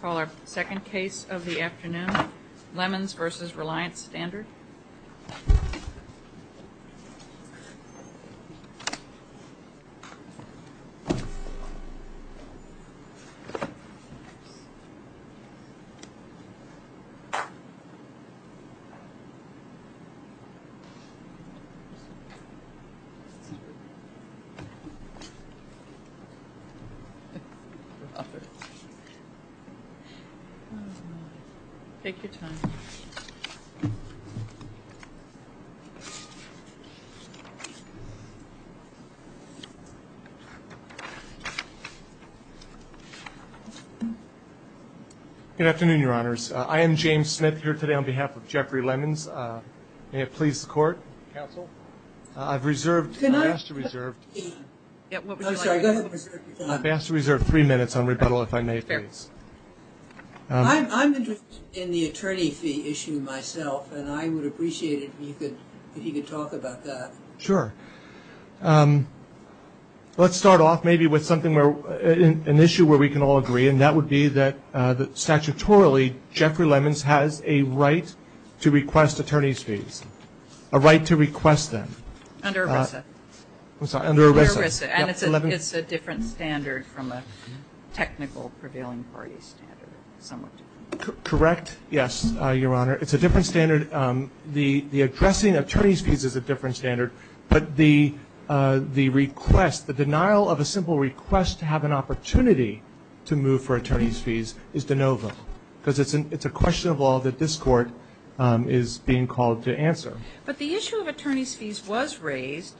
Call our second case of the afternoon, Lemons v. Reliance Standard Good afternoon, your honors. I am James Smith here today on behalf of Jeffrey Lemons. May I have five minutes on rebuttal, if I may, please. I'm interested in the attorney fee issue myself, and I would appreciate it if you could talk about that. Sure. Let's start off maybe with an issue where we can all agree, and that would be that statutorily, Jeffrey Lemons has a right to request attorney's fees, a right to request them. Under ERISA. I'm sorry, under ERISA. And it's a different standard from a technical prevailing party standard. Correct, yes, your honor. It's a different standard. The addressing attorney's fees is a different standard, but the request, the denial of a simple request to have an opportunity to move for attorney's fees is de novo, because it's a question of law that this Court is being called to answer. But the issue of attorney's fees was raised.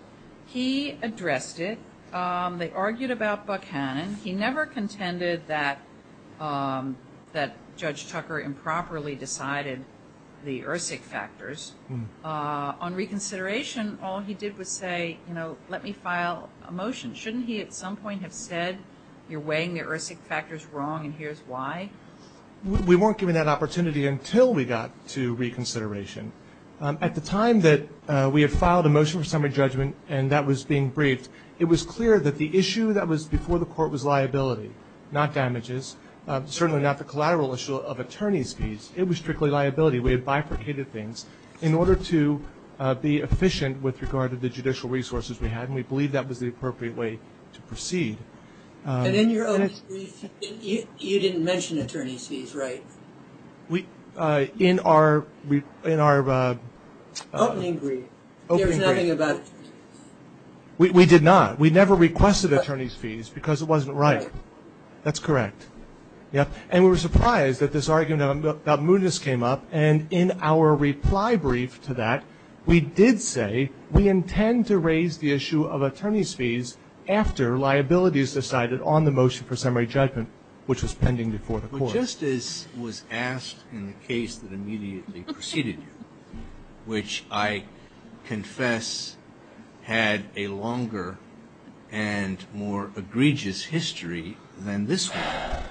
He addressed it. They argued about Buckhannon. He never contended that Judge Tucker improperly decided the ERSIC factors. On reconsideration, all he did was say, you know, let me file a motion. Shouldn't he at some point have said, you're weighing the ERSIC factors wrong and here's why? We weren't given that opportunity until we got to reconsideration. At the time that we had filed a motion for summary judgment and that was being briefed, it was clear that the issue that was before the Court was liability, not damages, certainly not the collateral issue of attorney's fees. It was strictly liability. We had bifurcated things in order to be efficient with regard to the judicial resources we had, and we believed that was the appropriate way to proceed. And in your opening brief, you didn't mention attorney's fees, right? In our opening brief, there was nothing about attorney's fees. We did not. We never requested attorney's fees because it wasn't right. That's correct. And we were surprised that this argument about mootness came up, and in our reply brief to that, we did say we intend to raise the issue of attorney's fees after liability is decided on the motion for summary judgment, which was pending before the Court. But just as was asked in the case that immediately preceded you, which I confess had a longer and more egregious history than this one,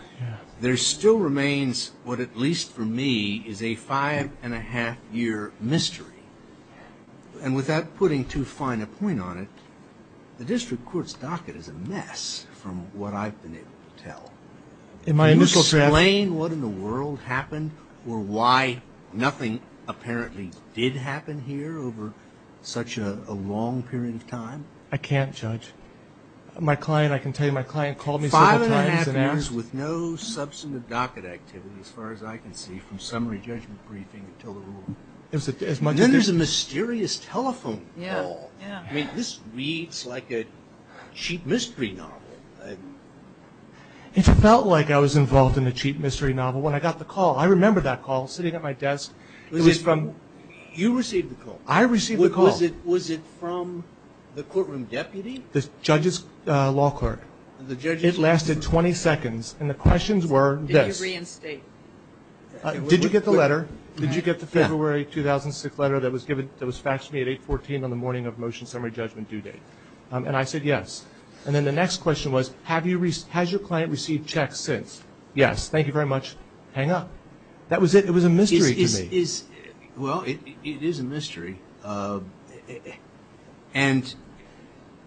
there still remains what at least for me is a five-and-a-half-year mystery, and without putting too fine a point on it, the district court's docket is a mess from what I've been able to tell. Can you explain what in the world happened or why nothing apparently did happen here over such a long period of time? I can't, Judge. My client, I can tell you my client called me several times and asked. Five-and-a-half years with no substantive docket activity as far as I can see from summary judgment briefing until the ruling. And then there's a mysterious telephone call. I mean, this reads like a cheap mystery novel. It felt like I was involved in a cheap mystery novel when I got the call. I remember that call sitting at my desk. You received the call? I received the call. Was it from the courtroom deputy? The judge's law court. It lasted 20 seconds, and the questions were this. Did you get the letter? Did you get the February 2006 letter that was faxed to me at 814 on the morning of motion summary judgment due date? And I said yes. And then the next question was, has your client received checks since? Yes. Thank you very much. Hang up. That was it. It was a mystery to me. Well, it is a mystery. And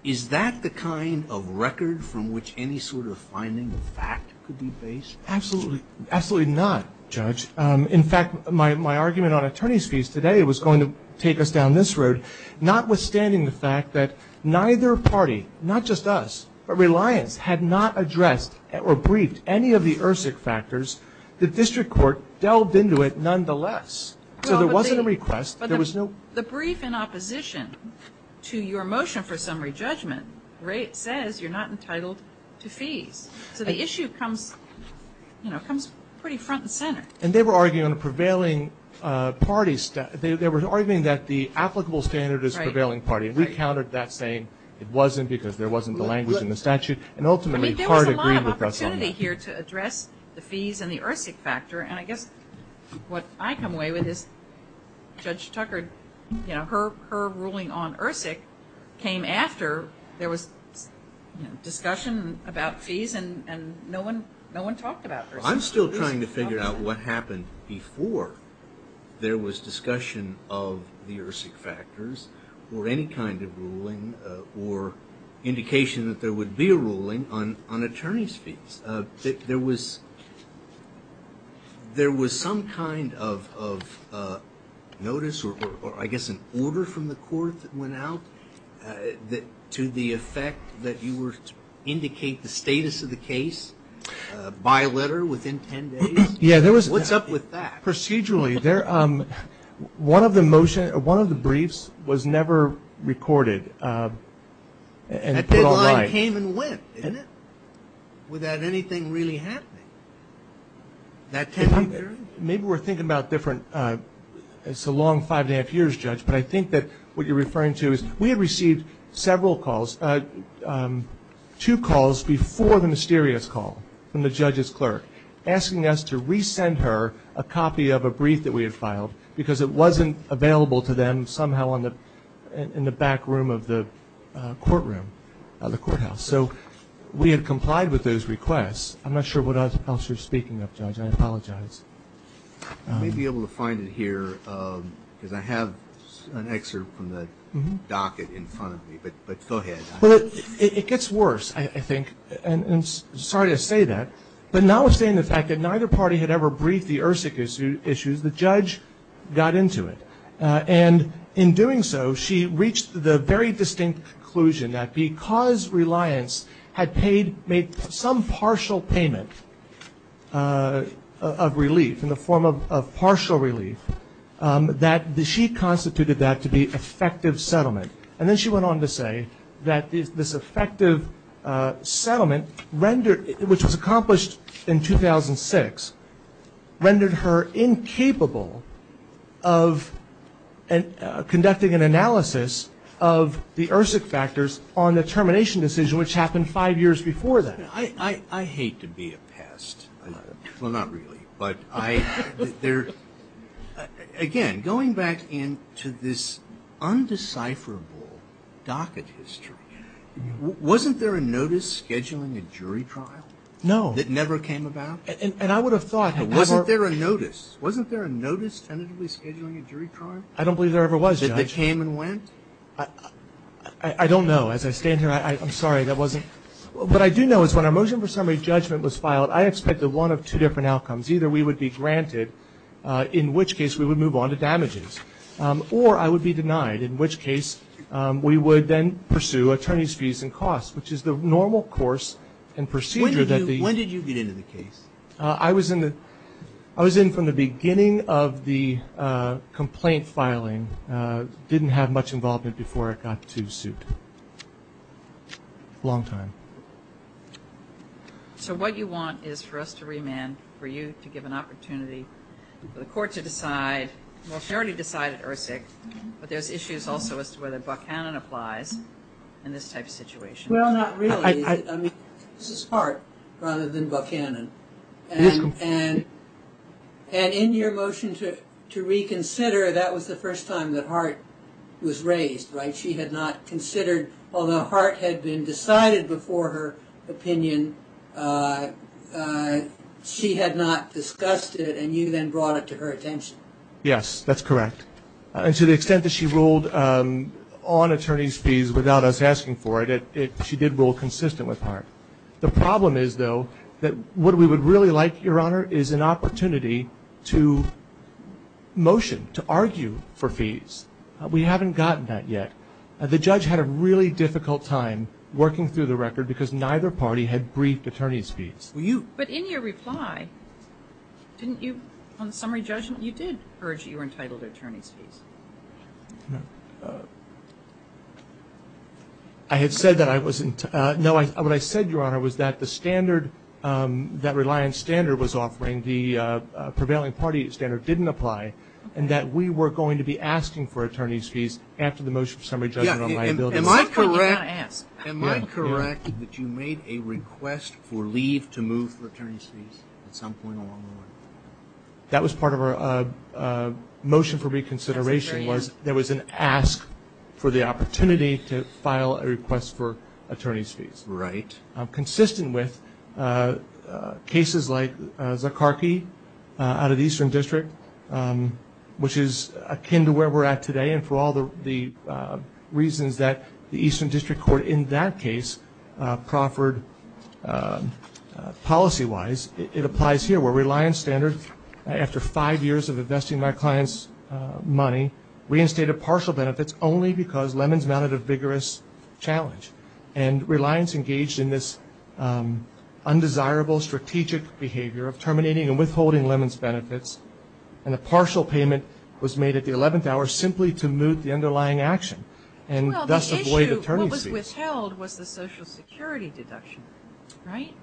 is that the kind of record from which any sort of finding of fact could be based? Absolutely not, Judge. In fact, my argument on attorney's fees today was going to take us down this road, notwithstanding the fact that neither party, not just us, but Reliance, had not addressed or briefed any of the ERSIC factors. The district court delved into it nonetheless. So there wasn't a request. The brief in opposition to your motion for summary judgment says you're not entitled to fees. So the issue comes pretty front and center. And they were arguing on a prevailing party. They were arguing that the applicable standard is prevailing party. And we countered that, saying it wasn't because there wasn't the language in the statute. And ultimately, the court agreed with us on that. I mean, there was a lot of opportunity here to address the fees and the ERSIC factor. And I guess what I come away with is Judge Tucker, her ruling on ERSIC came after there was discussion about fees, and no one talked about ERSIC fees. I'm still trying to figure out what happened before there was discussion of the ERSIC factors or any kind of ruling or indication that there would be a ruling on attorney's fees. There was some kind of notice or I guess an order from the court that went out to the effect that you were to review the case by letter within 10 days. Yeah, there was. What's up with that? Procedurally, one of the briefs was never recorded and put online. That deadline came and went, didn't it, without anything really happening that 10-week period? Maybe we're thinking about different – it's a long five-and-a-half years, Judge, but I think that what you're referring to is we had received several calls, two calls before the mysterious call from the judge's clerk asking us to resend her a copy of a brief that we had filed because it wasn't available to them somehow in the back room of the courtroom, of the courthouse. So we had complied with those requests. I'm not sure what else you're speaking of, Judge. I apologize. I may be able to find it here because I have an excerpt from the docket in front of me, but go ahead. It gets worse, I think, and I'm sorry to say that, but notwithstanding the fact that neither party had ever briefed the ERSIC issues, the judge got into it. And in doing so, she reached the very distinct conclusion that because Reliance had made some partial payment of relief, in the form of partial relief, that she constituted that to be effective settlement. And then she went on to say that this effective settlement, which was accomplished in 2006, rendered her incapable of conducting an analysis of the ERSIC factors on the termination decision, which happened five years before that. I hate to be a pest. Well, not really. But again, going back into this undecipherable docket history, wasn't there a notice scheduling a jury trial? No. That never came about? And I would have thought, however... Wasn't there a notice? Wasn't there a notice tentatively scheduling a jury trial? I don't believe there ever was, Judge. Did they came and went? I don't know. As I stand here, I'm sorry, that wasn't. What I do know is when our motion for summary judgment was filed, I expected one of two different outcomes. Either we would be granted, in which case we would move on to damages, or I would be denied, in which case we would then pursue attorney's fees and costs, which is the normal course and procedure that the... I was in from the beginning of the complaint filing. Didn't have much involvement before it got to suit. Long time. So what you want is for us to remand, for you to give an opportunity for the court to decide, you already decided ERSIC, but there's issues also as to whether Buchanan applies in this type of situation. Well, not really. This is Hart rather than Buchanan. And in your motion to reconsider, that was the first time that Hart was raised, right? She had not considered, although Hart had been decided before her opinion, she had not discussed it, and you then brought it to her attention. Yes, that's correct. And to the extent that she ruled on attorney's fees without us asking for it, she did rule consistent with Hart. The problem is, though, that what we would really like, Your Honor, is an opportunity to motion, to argue for fees. We haven't gotten that yet. The judge had a really difficult time working through the record because neither party had briefed attorney's fees. But in your reply, didn't you, on the summary judgment, you did urge that you were entitled to attorney's fees. I had said that I wasn't. No, what I said, Your Honor, was that the standard, that reliance standard was offering, the prevailing party standard didn't apply, and that we were going to be asking for attorney's fees after the motion for summary judgment on liability. Am I correct that you made a request for leave to move for attorney's fees at some point along the line? That was part of our motion for reconsideration was there was an ask for the opportunity to file a request for attorney's fees. Right. Consistent with cases like Zakarki out of the Eastern District, which is akin to where we're at today, and for all the reasons that the Eastern District Court in that case proffered policy-wise, it applies here where reliance standard, after five years of investing my client's money, reinstated partial benefits only because Lemons mounted a vigorous challenge. And reliance engaged in this undesirable strategic behavior of terminating and withholding Lemons' benefits, and a partial payment was made at the 11th hour simply to moot the underlying action and thus avoid attorney's fees. Well, the issue, what was withheld was the Social Security deduction, right?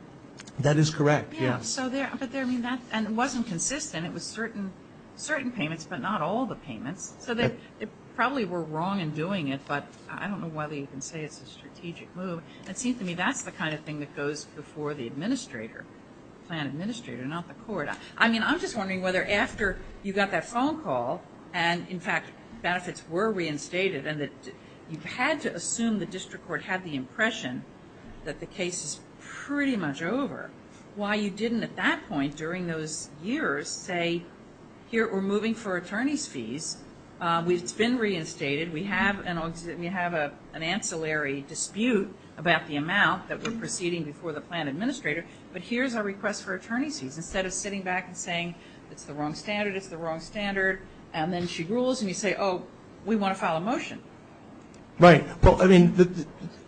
That is correct, yes. Yeah, but there, I mean, that, and it wasn't consistent. It was certain payments, but not all the payments. So they probably were wrong in doing it, but I don't know whether you can say it's a strategic move. It seems to me that's the kind of thing that goes before the administrator, plan administrator, not the court. I mean, I'm just wondering whether after you got that phone call and, in fact, benefits were reinstated and that you had to assume the district court had the impression that the case is pretty much over. Why you didn't at that point during those years say, here, we're moving for attorney's fees. It's been reinstated. We have an ancillary dispute about the amount that we're proceeding before the plan administrator, but here's our request for attorney's fees instead of sitting back and saying it's the wrong standard, it's the wrong standard, and then she rules, and you say, oh, we want to file a motion. Right. Well, I mean,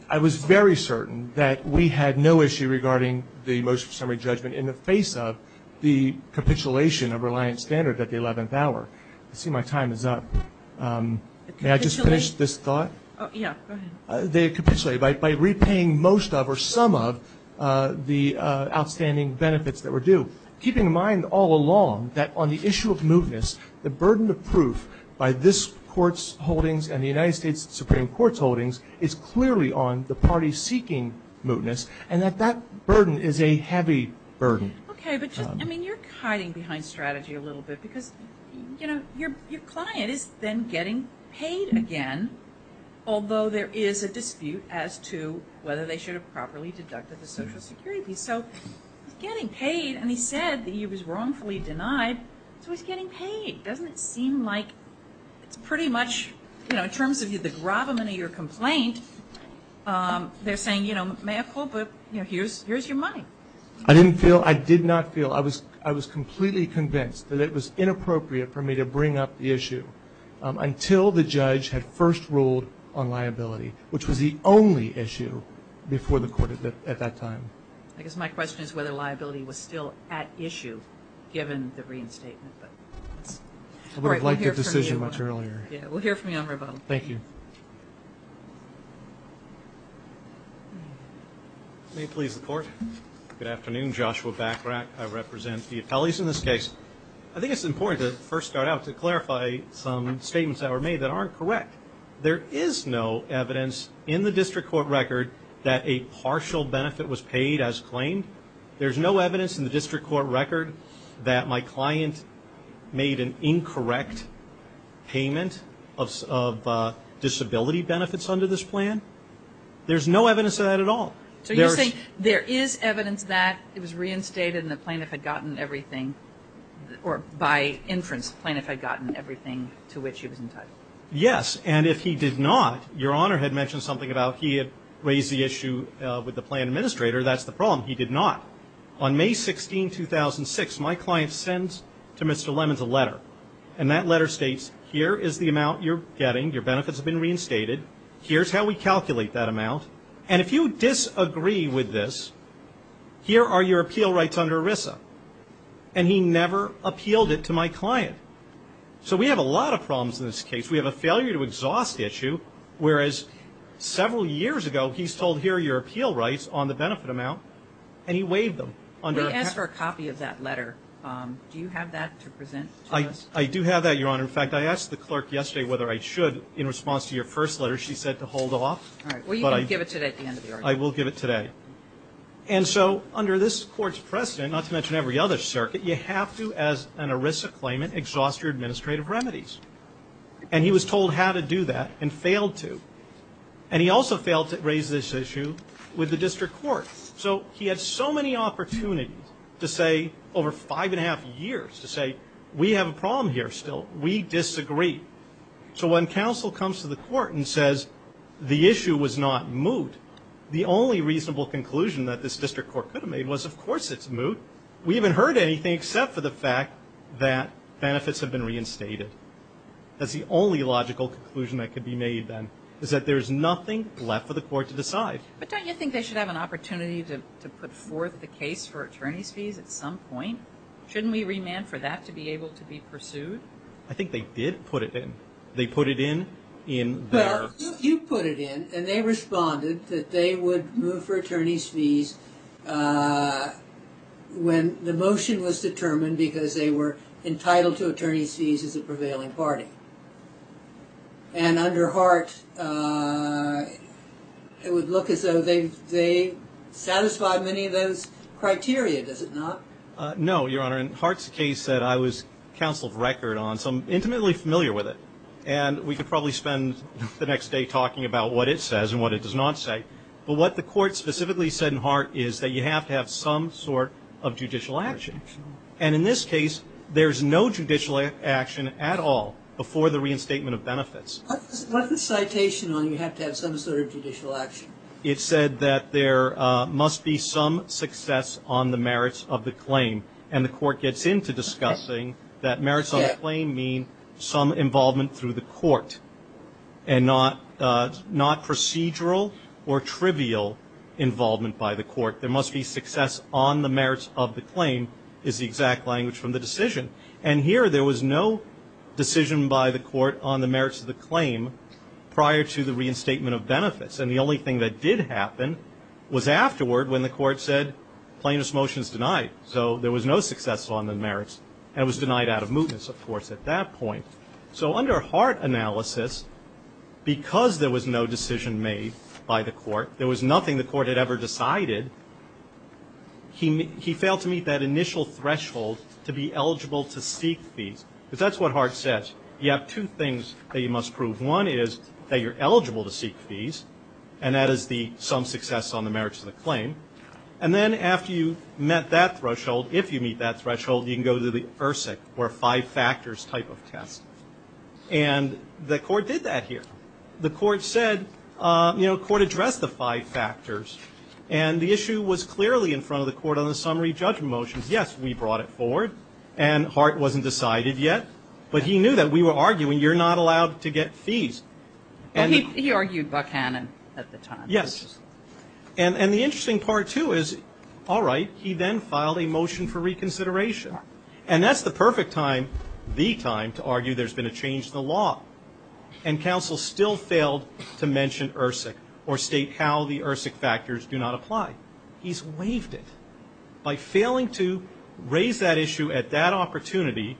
I was very certain that we had no issue regarding the motion of summary judgment in the face of the capitulation of reliant standard at the 11th hour. I see my time is up. May I just finish this thought? Yeah, go ahead. By repaying most of or some of the outstanding benefits that were due, keeping in mind all along that on the issue of mootness, the burden of proof by this court's holdings and the United States Supreme Court's holdings is clearly on the party seeking mootness, and that that burden is a heavy burden. Okay, but just, I mean, you're hiding behind strategy a little bit because, you know, your client is then getting paid again, although there is a dispute as to whether they should have properly deducted the Social Security. So he's getting paid, and he said that he was wrongfully denied, so he's getting paid. Doesn't it seem like it's pretty much, you know, in terms of the gravamen of your complaint, they're saying, you know, may I pull, but, you know, here's your money. I didn't feel, I did not feel, I was completely convinced that it was inappropriate for me to bring up the issue until the judge had first ruled on liability, which was the only issue before the court at that time. I guess my question is whether liability was still at issue given the reinstatement. I would have liked that decision much earlier. Yeah, we'll hear from you on rebuttal. Thank you. May it please the Court. Good afternoon. Joshua Bachrach. I represent the appellees in this case. I think it's important to first start out to clarify some statements that were made that aren't correct. There is no evidence in the district court record that a partial benefit was paid as claimed. There's no evidence in the district court record that my client made an incorrect payment of disability benefits under this plan. There's no evidence of that at all. So you're saying there is evidence that it was reinstated and the plaintiff had gotten everything, or by inference, the plaintiff had gotten everything to which he was entitled. Yes, and if he did not, your Honor had mentioned something about he had raised the issue with the plan administrator. That's the problem. He did not. On May 16, 2006, my client sends to Mr. Lemons a letter, and that letter states here is the amount you're getting, your benefits have been reinstated. Here's how we calculate that amount. And if you disagree with this, here are your appeal rights under ERISA. And he never appealed it to my client. So we have a lot of problems in this case. We have a failure to exhaust issue, whereas several years ago, he's told here are your appeal rights on the benefit amount, and he waived them. We asked for a copy of that letter. Do you have that to present to us? I do have that, your Honor. In fact, I asked the clerk yesterday whether I should in response to your first letter. She said to hold off. All right. Well, you can give it today at the end of the argument. I will give it today. And so under this Court's precedent, not to mention every other circuit, you have to, as an ERISA claimant, exhaust your administrative remedies. And he was told how to do that and failed to. And he also failed to raise this issue with the district court. So he had so many opportunities to say over five and a half years, to say, we have a problem here still. We disagree. So when counsel comes to the court and says the issue was not moot, the only reasonable conclusion that this district court could have made was, of course it's moot. We haven't heard anything except for the fact that benefits have been reinstated. That's the only logical conclusion that could be made then, is that there's nothing left for the court to decide. But don't you think they should have an opportunity to put forth the case for attorney's fees at some point? Shouldn't we remand for that to be able to be pursued? I think they did put it in. They put it in there. Well, you put it in, and they responded that they would move for attorney's fees when the motion was determined because they were entitled to attorney's fees as a prevailing party. And under Hart, it would look as though they satisfied many of those criteria, does it not? No, Your Honor. In Hart's case that I was counsel of record on, so I'm intimately familiar with it, and we could probably spend the next day talking about what it says and what it does not say. But what the court specifically said in Hart is that you have to have some sort of judicial action. And in this case, there's no judicial action at all before the reinstatement of benefits. What's the citation on you have to have some sort of judicial action? It said that there must be some success on the merits of the claim, and the court gets into discussing that merits of the claim mean some involvement through the court and not procedural or trivial involvement by the court. There must be success on the merits of the claim is the exact language from the decision. And here there was no decision by the court on the merits of the claim prior to the reinstatement of benefits. And the only thing that did happen was afterward when the court said, plaintiff's motion is denied. So there was no success on the merits, and it was denied out of mootness, of course, at that point. So under Hart analysis, because there was no decision made by the court, there was nothing the court had ever decided, he failed to meet that initial threshold to be eligible to seek fees. Because that's what Hart says. You have two things that you must prove. One is that you're eligible to seek fees, and that is the some success on the merits of the claim. And then after you've met that threshold, if you meet that threshold, you can go to the ERSIC or five factors type of test. And the court did that here. The court said, you know, court addressed the five factors, and the issue was clearly in front of the court on the summary judgment motions. Yes, we brought it forward, and Hart wasn't decided yet, but he knew that we were arguing you're not allowed to get fees. And he argued Buckhannon at the time. Yes. And the interesting part, too, is all right, he then filed a motion for reconsideration. And that's the perfect time, the time, to argue there's been a change in the law. And counsel still failed to mention ERSIC or state how the ERSIC factors do not apply. He's waived it. By failing to raise that issue at that opportunity,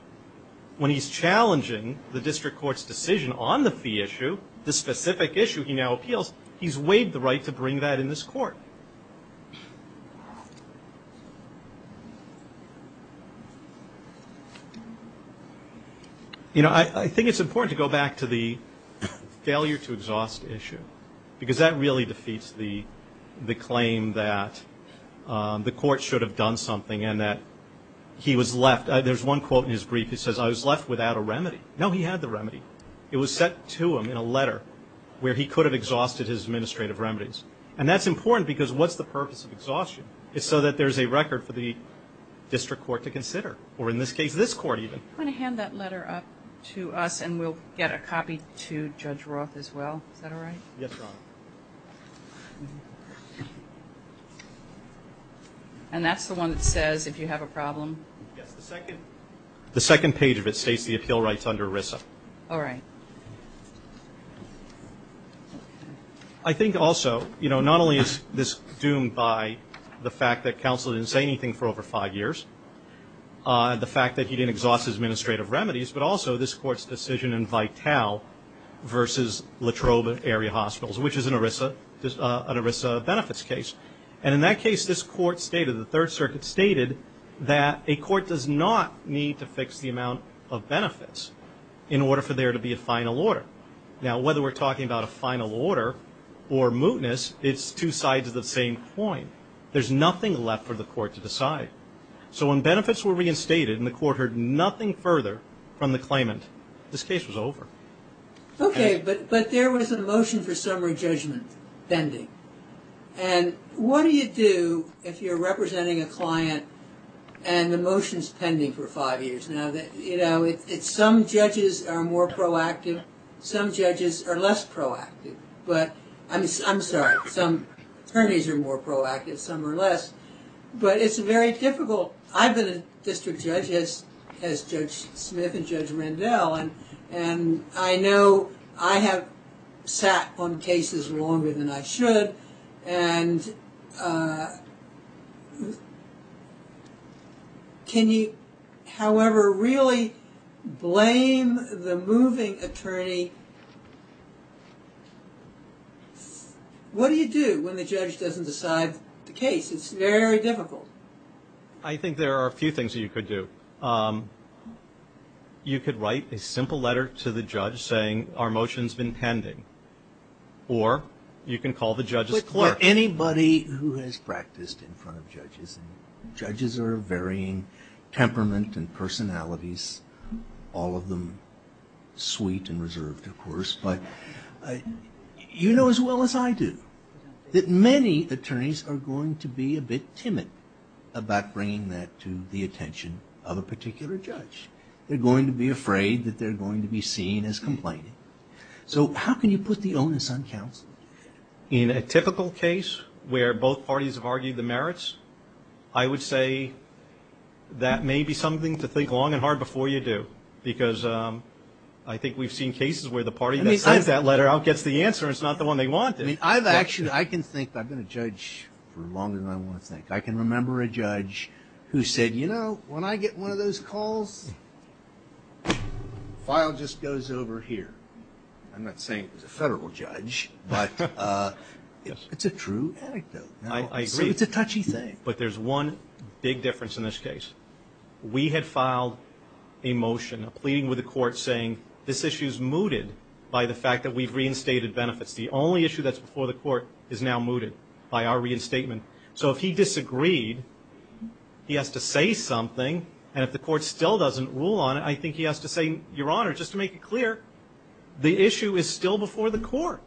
when he's challenging the district court's decision on the fee issue, the specific issue he now appeals, he's waived the right to bring that in this court. You know, I think it's important to go back to the failure to exhaust issue, because that really defeats the claim that the court should have done something and that he was left. There's one quote in his brief that says, I was left without a remedy. No, he had the remedy. It was set to him in a letter where he could have exhausted his administrative remedies. And that's important because what's the purpose of exhaustion? It's so that there's a record for the district court to consider, or in this case, this court even. I'm going to hand that letter up to us and we'll get a copy to Judge Roth as well. Is that all right? Yes, Your Honor. And that's the one that says if you have a problem. Yes, the second page of it states the appeal rights under ERISA. All right. I think also, you know, not only is this doomed by the fact that counsel didn't say anything for over five years, the fact that he didn't exhaust his administrative remedies, but also this court's decision in Vitale versus Latrobe Area Hospitals, which is an ERISA benefits case. And in that case, this court stated, the Third Circuit stated that a court does not need to fix the amount of benefits in order for there to be a final order. Now, whether we're talking about a final order or mootness, it's two sides of the same coin. There's nothing left for the court to decide. So when benefits were reinstated and the court heard nothing further from the claimant, this case was over. Okay. But there was a motion for summary judgment pending. And what do you do if you're representing a client and the motion's pending for five years? Some judges are more proactive. Some judges are less proactive. I'm sorry. Some attorneys are more proactive. Some are less. But it's very difficult. I've been a district judge as Judge Smith and Judge Rendell. And I know I have sat on cases longer than I should. And can you, however, really blame the moving attorney? What do you do when the judge doesn't decide the case? It's very difficult. I think there are a few things that you could do. You could write a simple letter to the judge saying our motion's been pending. Or you can call the judge's clerk. But anybody who has practiced in front of judges, and judges are of varying temperament and personalities, all of them sweet and reserved, of course, but you know as well as I do that many attorneys are going to be a bit timid about bringing that to the attention of a particular judge. They're going to be afraid that they're going to be seen as complaining. So how can you put the onus on counsel? In a typical case where both parties have argued the merits, I would say that may be something to think long and hard before you do, because I think we've seen cases where the party that sends that letter out gets the answer and it's not the one they wanted. I've actually been a judge for longer than I want to think. I can remember a judge who said, you know, when I get one of those calls, file just goes over here. I'm not saying it was a federal judge, but it's a true anecdote. I agree. It's a touchy thing. But there's one big difference in this case. We had filed a motion pleading with the court saying this issue's mooted by the fact that we've reinstated benefits. The only issue that's before the court is now mooted by our reinstatement. So if he disagreed, he has to say something, and if the court still doesn't rule on it, I think he has to say, Your Honor, just to make it clear, the issue is still before the court.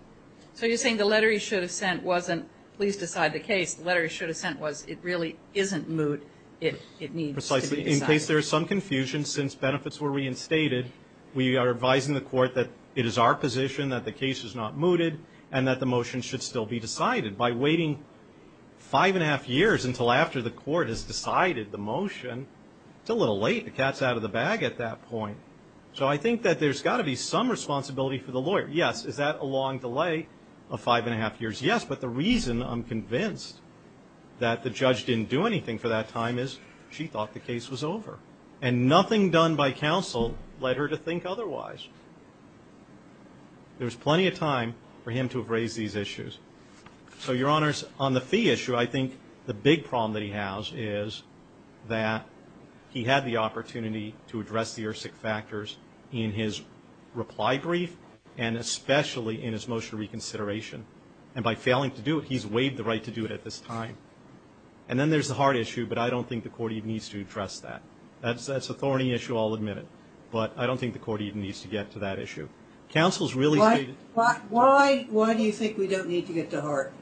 So you're saying the letter he should have sent wasn't please decide the case. The letter he should have sent was it really isn't moot. It needs to be decided. Precisely. In case there is some confusion, since benefits were reinstated, we are advising the court that it is our position that the case is not mooted and that the motion should still be decided. By waiting five and a half years until after the court has decided the motion, it's a little late. The cat's out of the bag at that point. So I think that there's got to be some responsibility for the lawyer. Yes. Is that a long delay of five and a half years? Yes. But the reason I'm convinced that the judge didn't do anything for that time is she thought the case was over, and nothing done by counsel led her to think otherwise. There's plenty of time for him to have raised these issues. So, Your Honors, on the fee issue, I think the big problem that he has is that he had the opportunity to address the ERSIC factors in his reply brief and especially in his motion of reconsideration. And by failing to do it, he's waived the right to do it at this time. And then there's the heart issue, but I don't think the court even needs to address that. That's an authority issue, I'll admit it. But I don't think the court even needs to get to that issue. Why do you think we don't need to get to heart?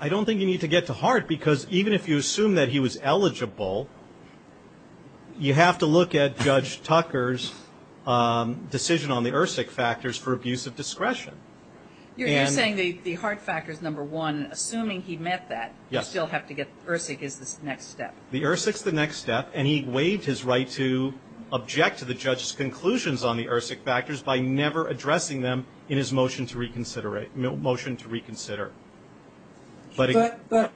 I don't think you need to get to heart because even if you assume that he was eligible, you have to look at Judge Tucker's decision on the ERSIC factors for abuse of discretion. You're saying the heart factor is number one. Assuming he met that, you still have to get ERSIC as the next step. The ERSIC's the next step, and he waived his right to object to the judge's conclusions on the ERSIC factors by never addressing them in his motion to reconsider. But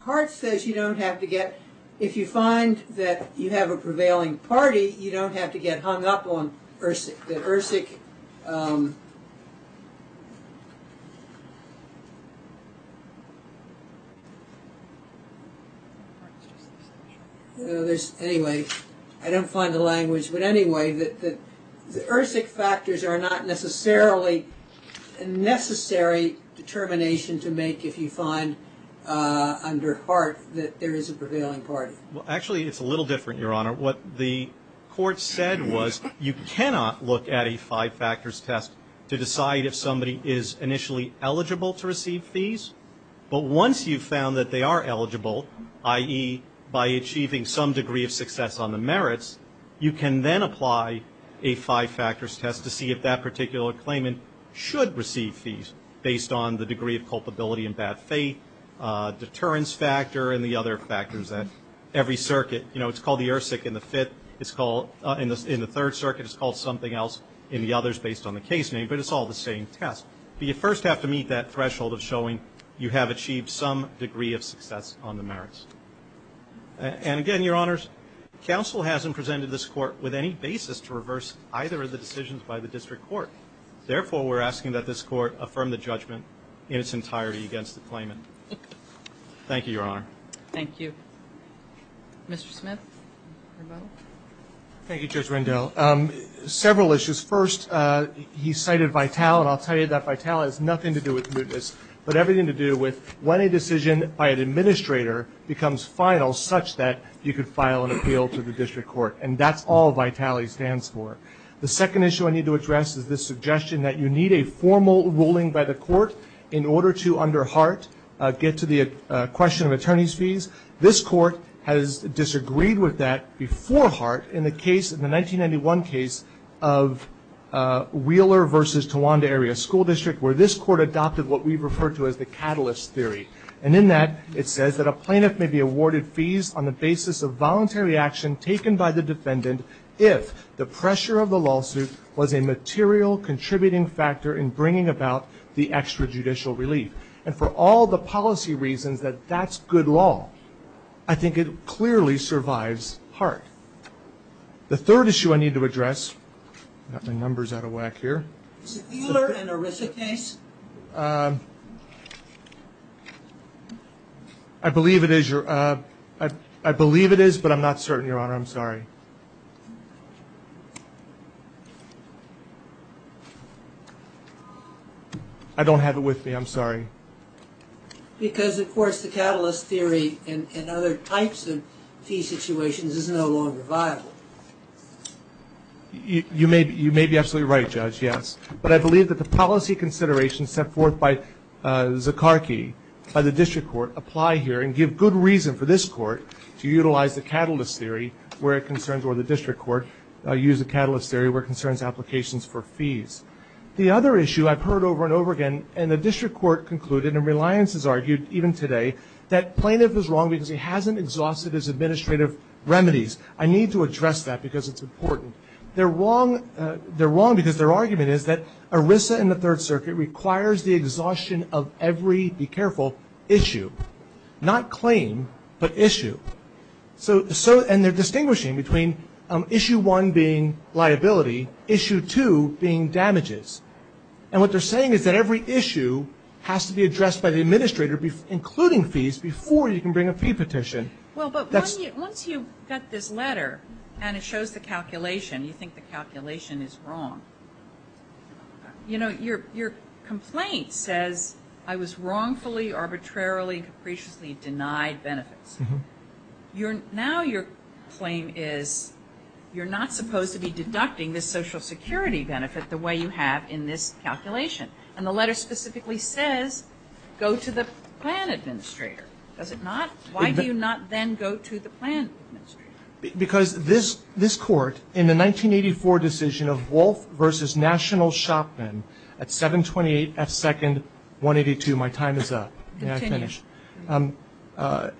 heart says you don't have to get – if you find that you have a prevailing party, you don't have to get hung up on ERSIC. Anyway, I don't find the language. But anyway, the ERSIC factors are not necessarily a necessary determination to make if you find under heart that there is a prevailing party. Actually, it's a little different, Your Honor. What the court said was you cannot look at a five-factors test to decide if somebody is initially eligible to receive fees. But once you've found that they are eligible, i.e., by achieving some degree of success on the merits, you can then apply a five-factors test to see if that particular claimant should receive fees based on the degree of culpability and bad faith, deterrence factor, and the other factors at every circuit. You know, it's called the ERSIC in the third circuit. It's called something else in the others based on the case name, but it's all the same test. But you first have to meet that threshold of showing you have achieved some degree of success on the merits. And again, Your Honors, counsel hasn't presented this court with any basis to reverse either of the decisions by the district court. Therefore, we're asking that this court affirm the judgment in its entirety against the claimant. Thank you, Your Honor. Thank you. Mr. Smith? Thank you, Judge Rendell. Several issues. First, he cited VITALI. And I'll tell you that VITALI has nothing to do with mootness, but everything to do with when a decision by an administrator becomes final such that you could file an appeal to the district court. And that's all VITALI stands for. The second issue I need to address is this suggestion that you need a formal ruling by the court in order to, under Hart, get to the question of attorney's fees. This court has disagreed with that before Hart in the case, in the 1991 case, of Wheeler v. Tawanda Area School District where this court adopted what we refer to as the catalyst theory. And in that, it says that a plaintiff may be awarded fees on the basis of voluntary action taken by the defendant if the pressure of the lawsuit was a material contributing factor in bringing about the extrajudicial relief. And for all the policy reasons that that's good law, I think it clearly survives Hart. The third issue I need to address, I've got my numbers out of whack here. Is it Wheeler and Orissa case? I believe it is, but I'm not certain, Your Honor. I'm sorry. I don't have it with me. I'm sorry. Because, of course, the catalyst theory and other types of fee situations is no longer viable. You may be absolutely right, Judge, yes. But I believe that the policy considerations set forth by Zekarki, by the district court, apply here and give good reason for this court to utilize the catalyst theory where it concerns or the district court use the catalyst theory where it concerns applications for fees. The other issue I've heard over and over again, and the district court concluded, and Reliance has argued even today, that plaintiff is wrong because he hasn't exhausted his administrative remedies. I need to address that because it's important. They're wrong because their argument is that Orissa and the Third Circuit requires the exhaustion of every, be careful, issue, not claim, but issue. And they're distinguishing between issue one being liability, issue two being damages. And what they're saying is that every issue has to be addressed by the administrator, including fees, before you can bring a fee petition. Well, but once you get this letter and it shows the calculation, you think the calculation is wrong, you know, your complaint says I was wrongfully, arbitrarily, and capriciously denied benefits. Now your claim is you're not supposed to be deducting the Social Security benefit the way you have in this calculation. And the letter specifically says go to the plan administrator. Does it not? Why do you not then go to the plan administrator? Because this court, in the 1984 decision of Wolf v. National Shopman at 728 F. Second, 182, my time is up. May I finish? Continue.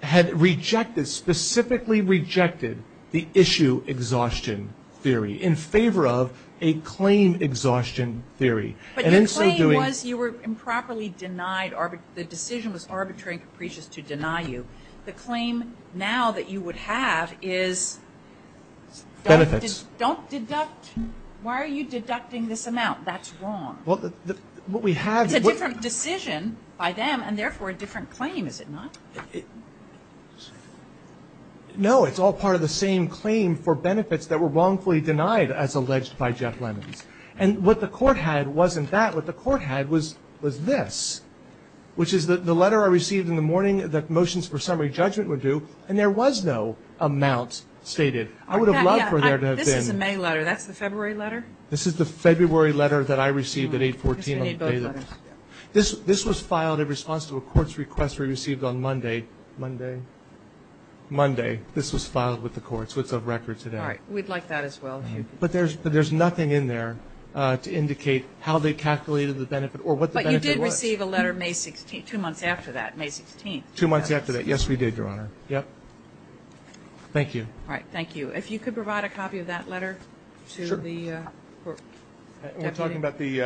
Had rejected, specifically rejected, the issue exhaustion theory in favor of a claim exhaustion theory. But your claim was you were improperly denied, the decision was arbitrary and capricious to deny you. The claim now that you would have is don't deduct, why are you deducting this amount? That's wrong. It's a different decision by them and therefore a different claim, is it not? No, it's all part of the same claim for benefits that were wrongfully denied as alleged by Jeff Lemons. And what the court had wasn't that. What the court had was this, which is the letter I received in the morning that motions for summary judgment were due, and there was no amount stated. I would have loved for there to have been. This is a May letter. That's the February letter? This is the February letter that I received at 814. I guess we need both letters. This was filed in response to a court's request we received on Monday. Monday? Monday. This was filed with the courts. It's of record today. All right. We'd like that as well. But there's nothing in there to indicate how they calculated the benefit or what the benefit was. But you did receive a letter May 16th, two months after that, May 16th. Two months after that. Yes, we did, Your Honor. Yep. Thank you. All right. Thank you. If you could provide a copy of that letter to the court. We're talking about the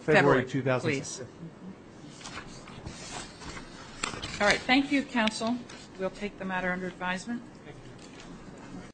February 2016. February, please. All right. Thank you, counsel. We'll take the matter under advisement. Thank you.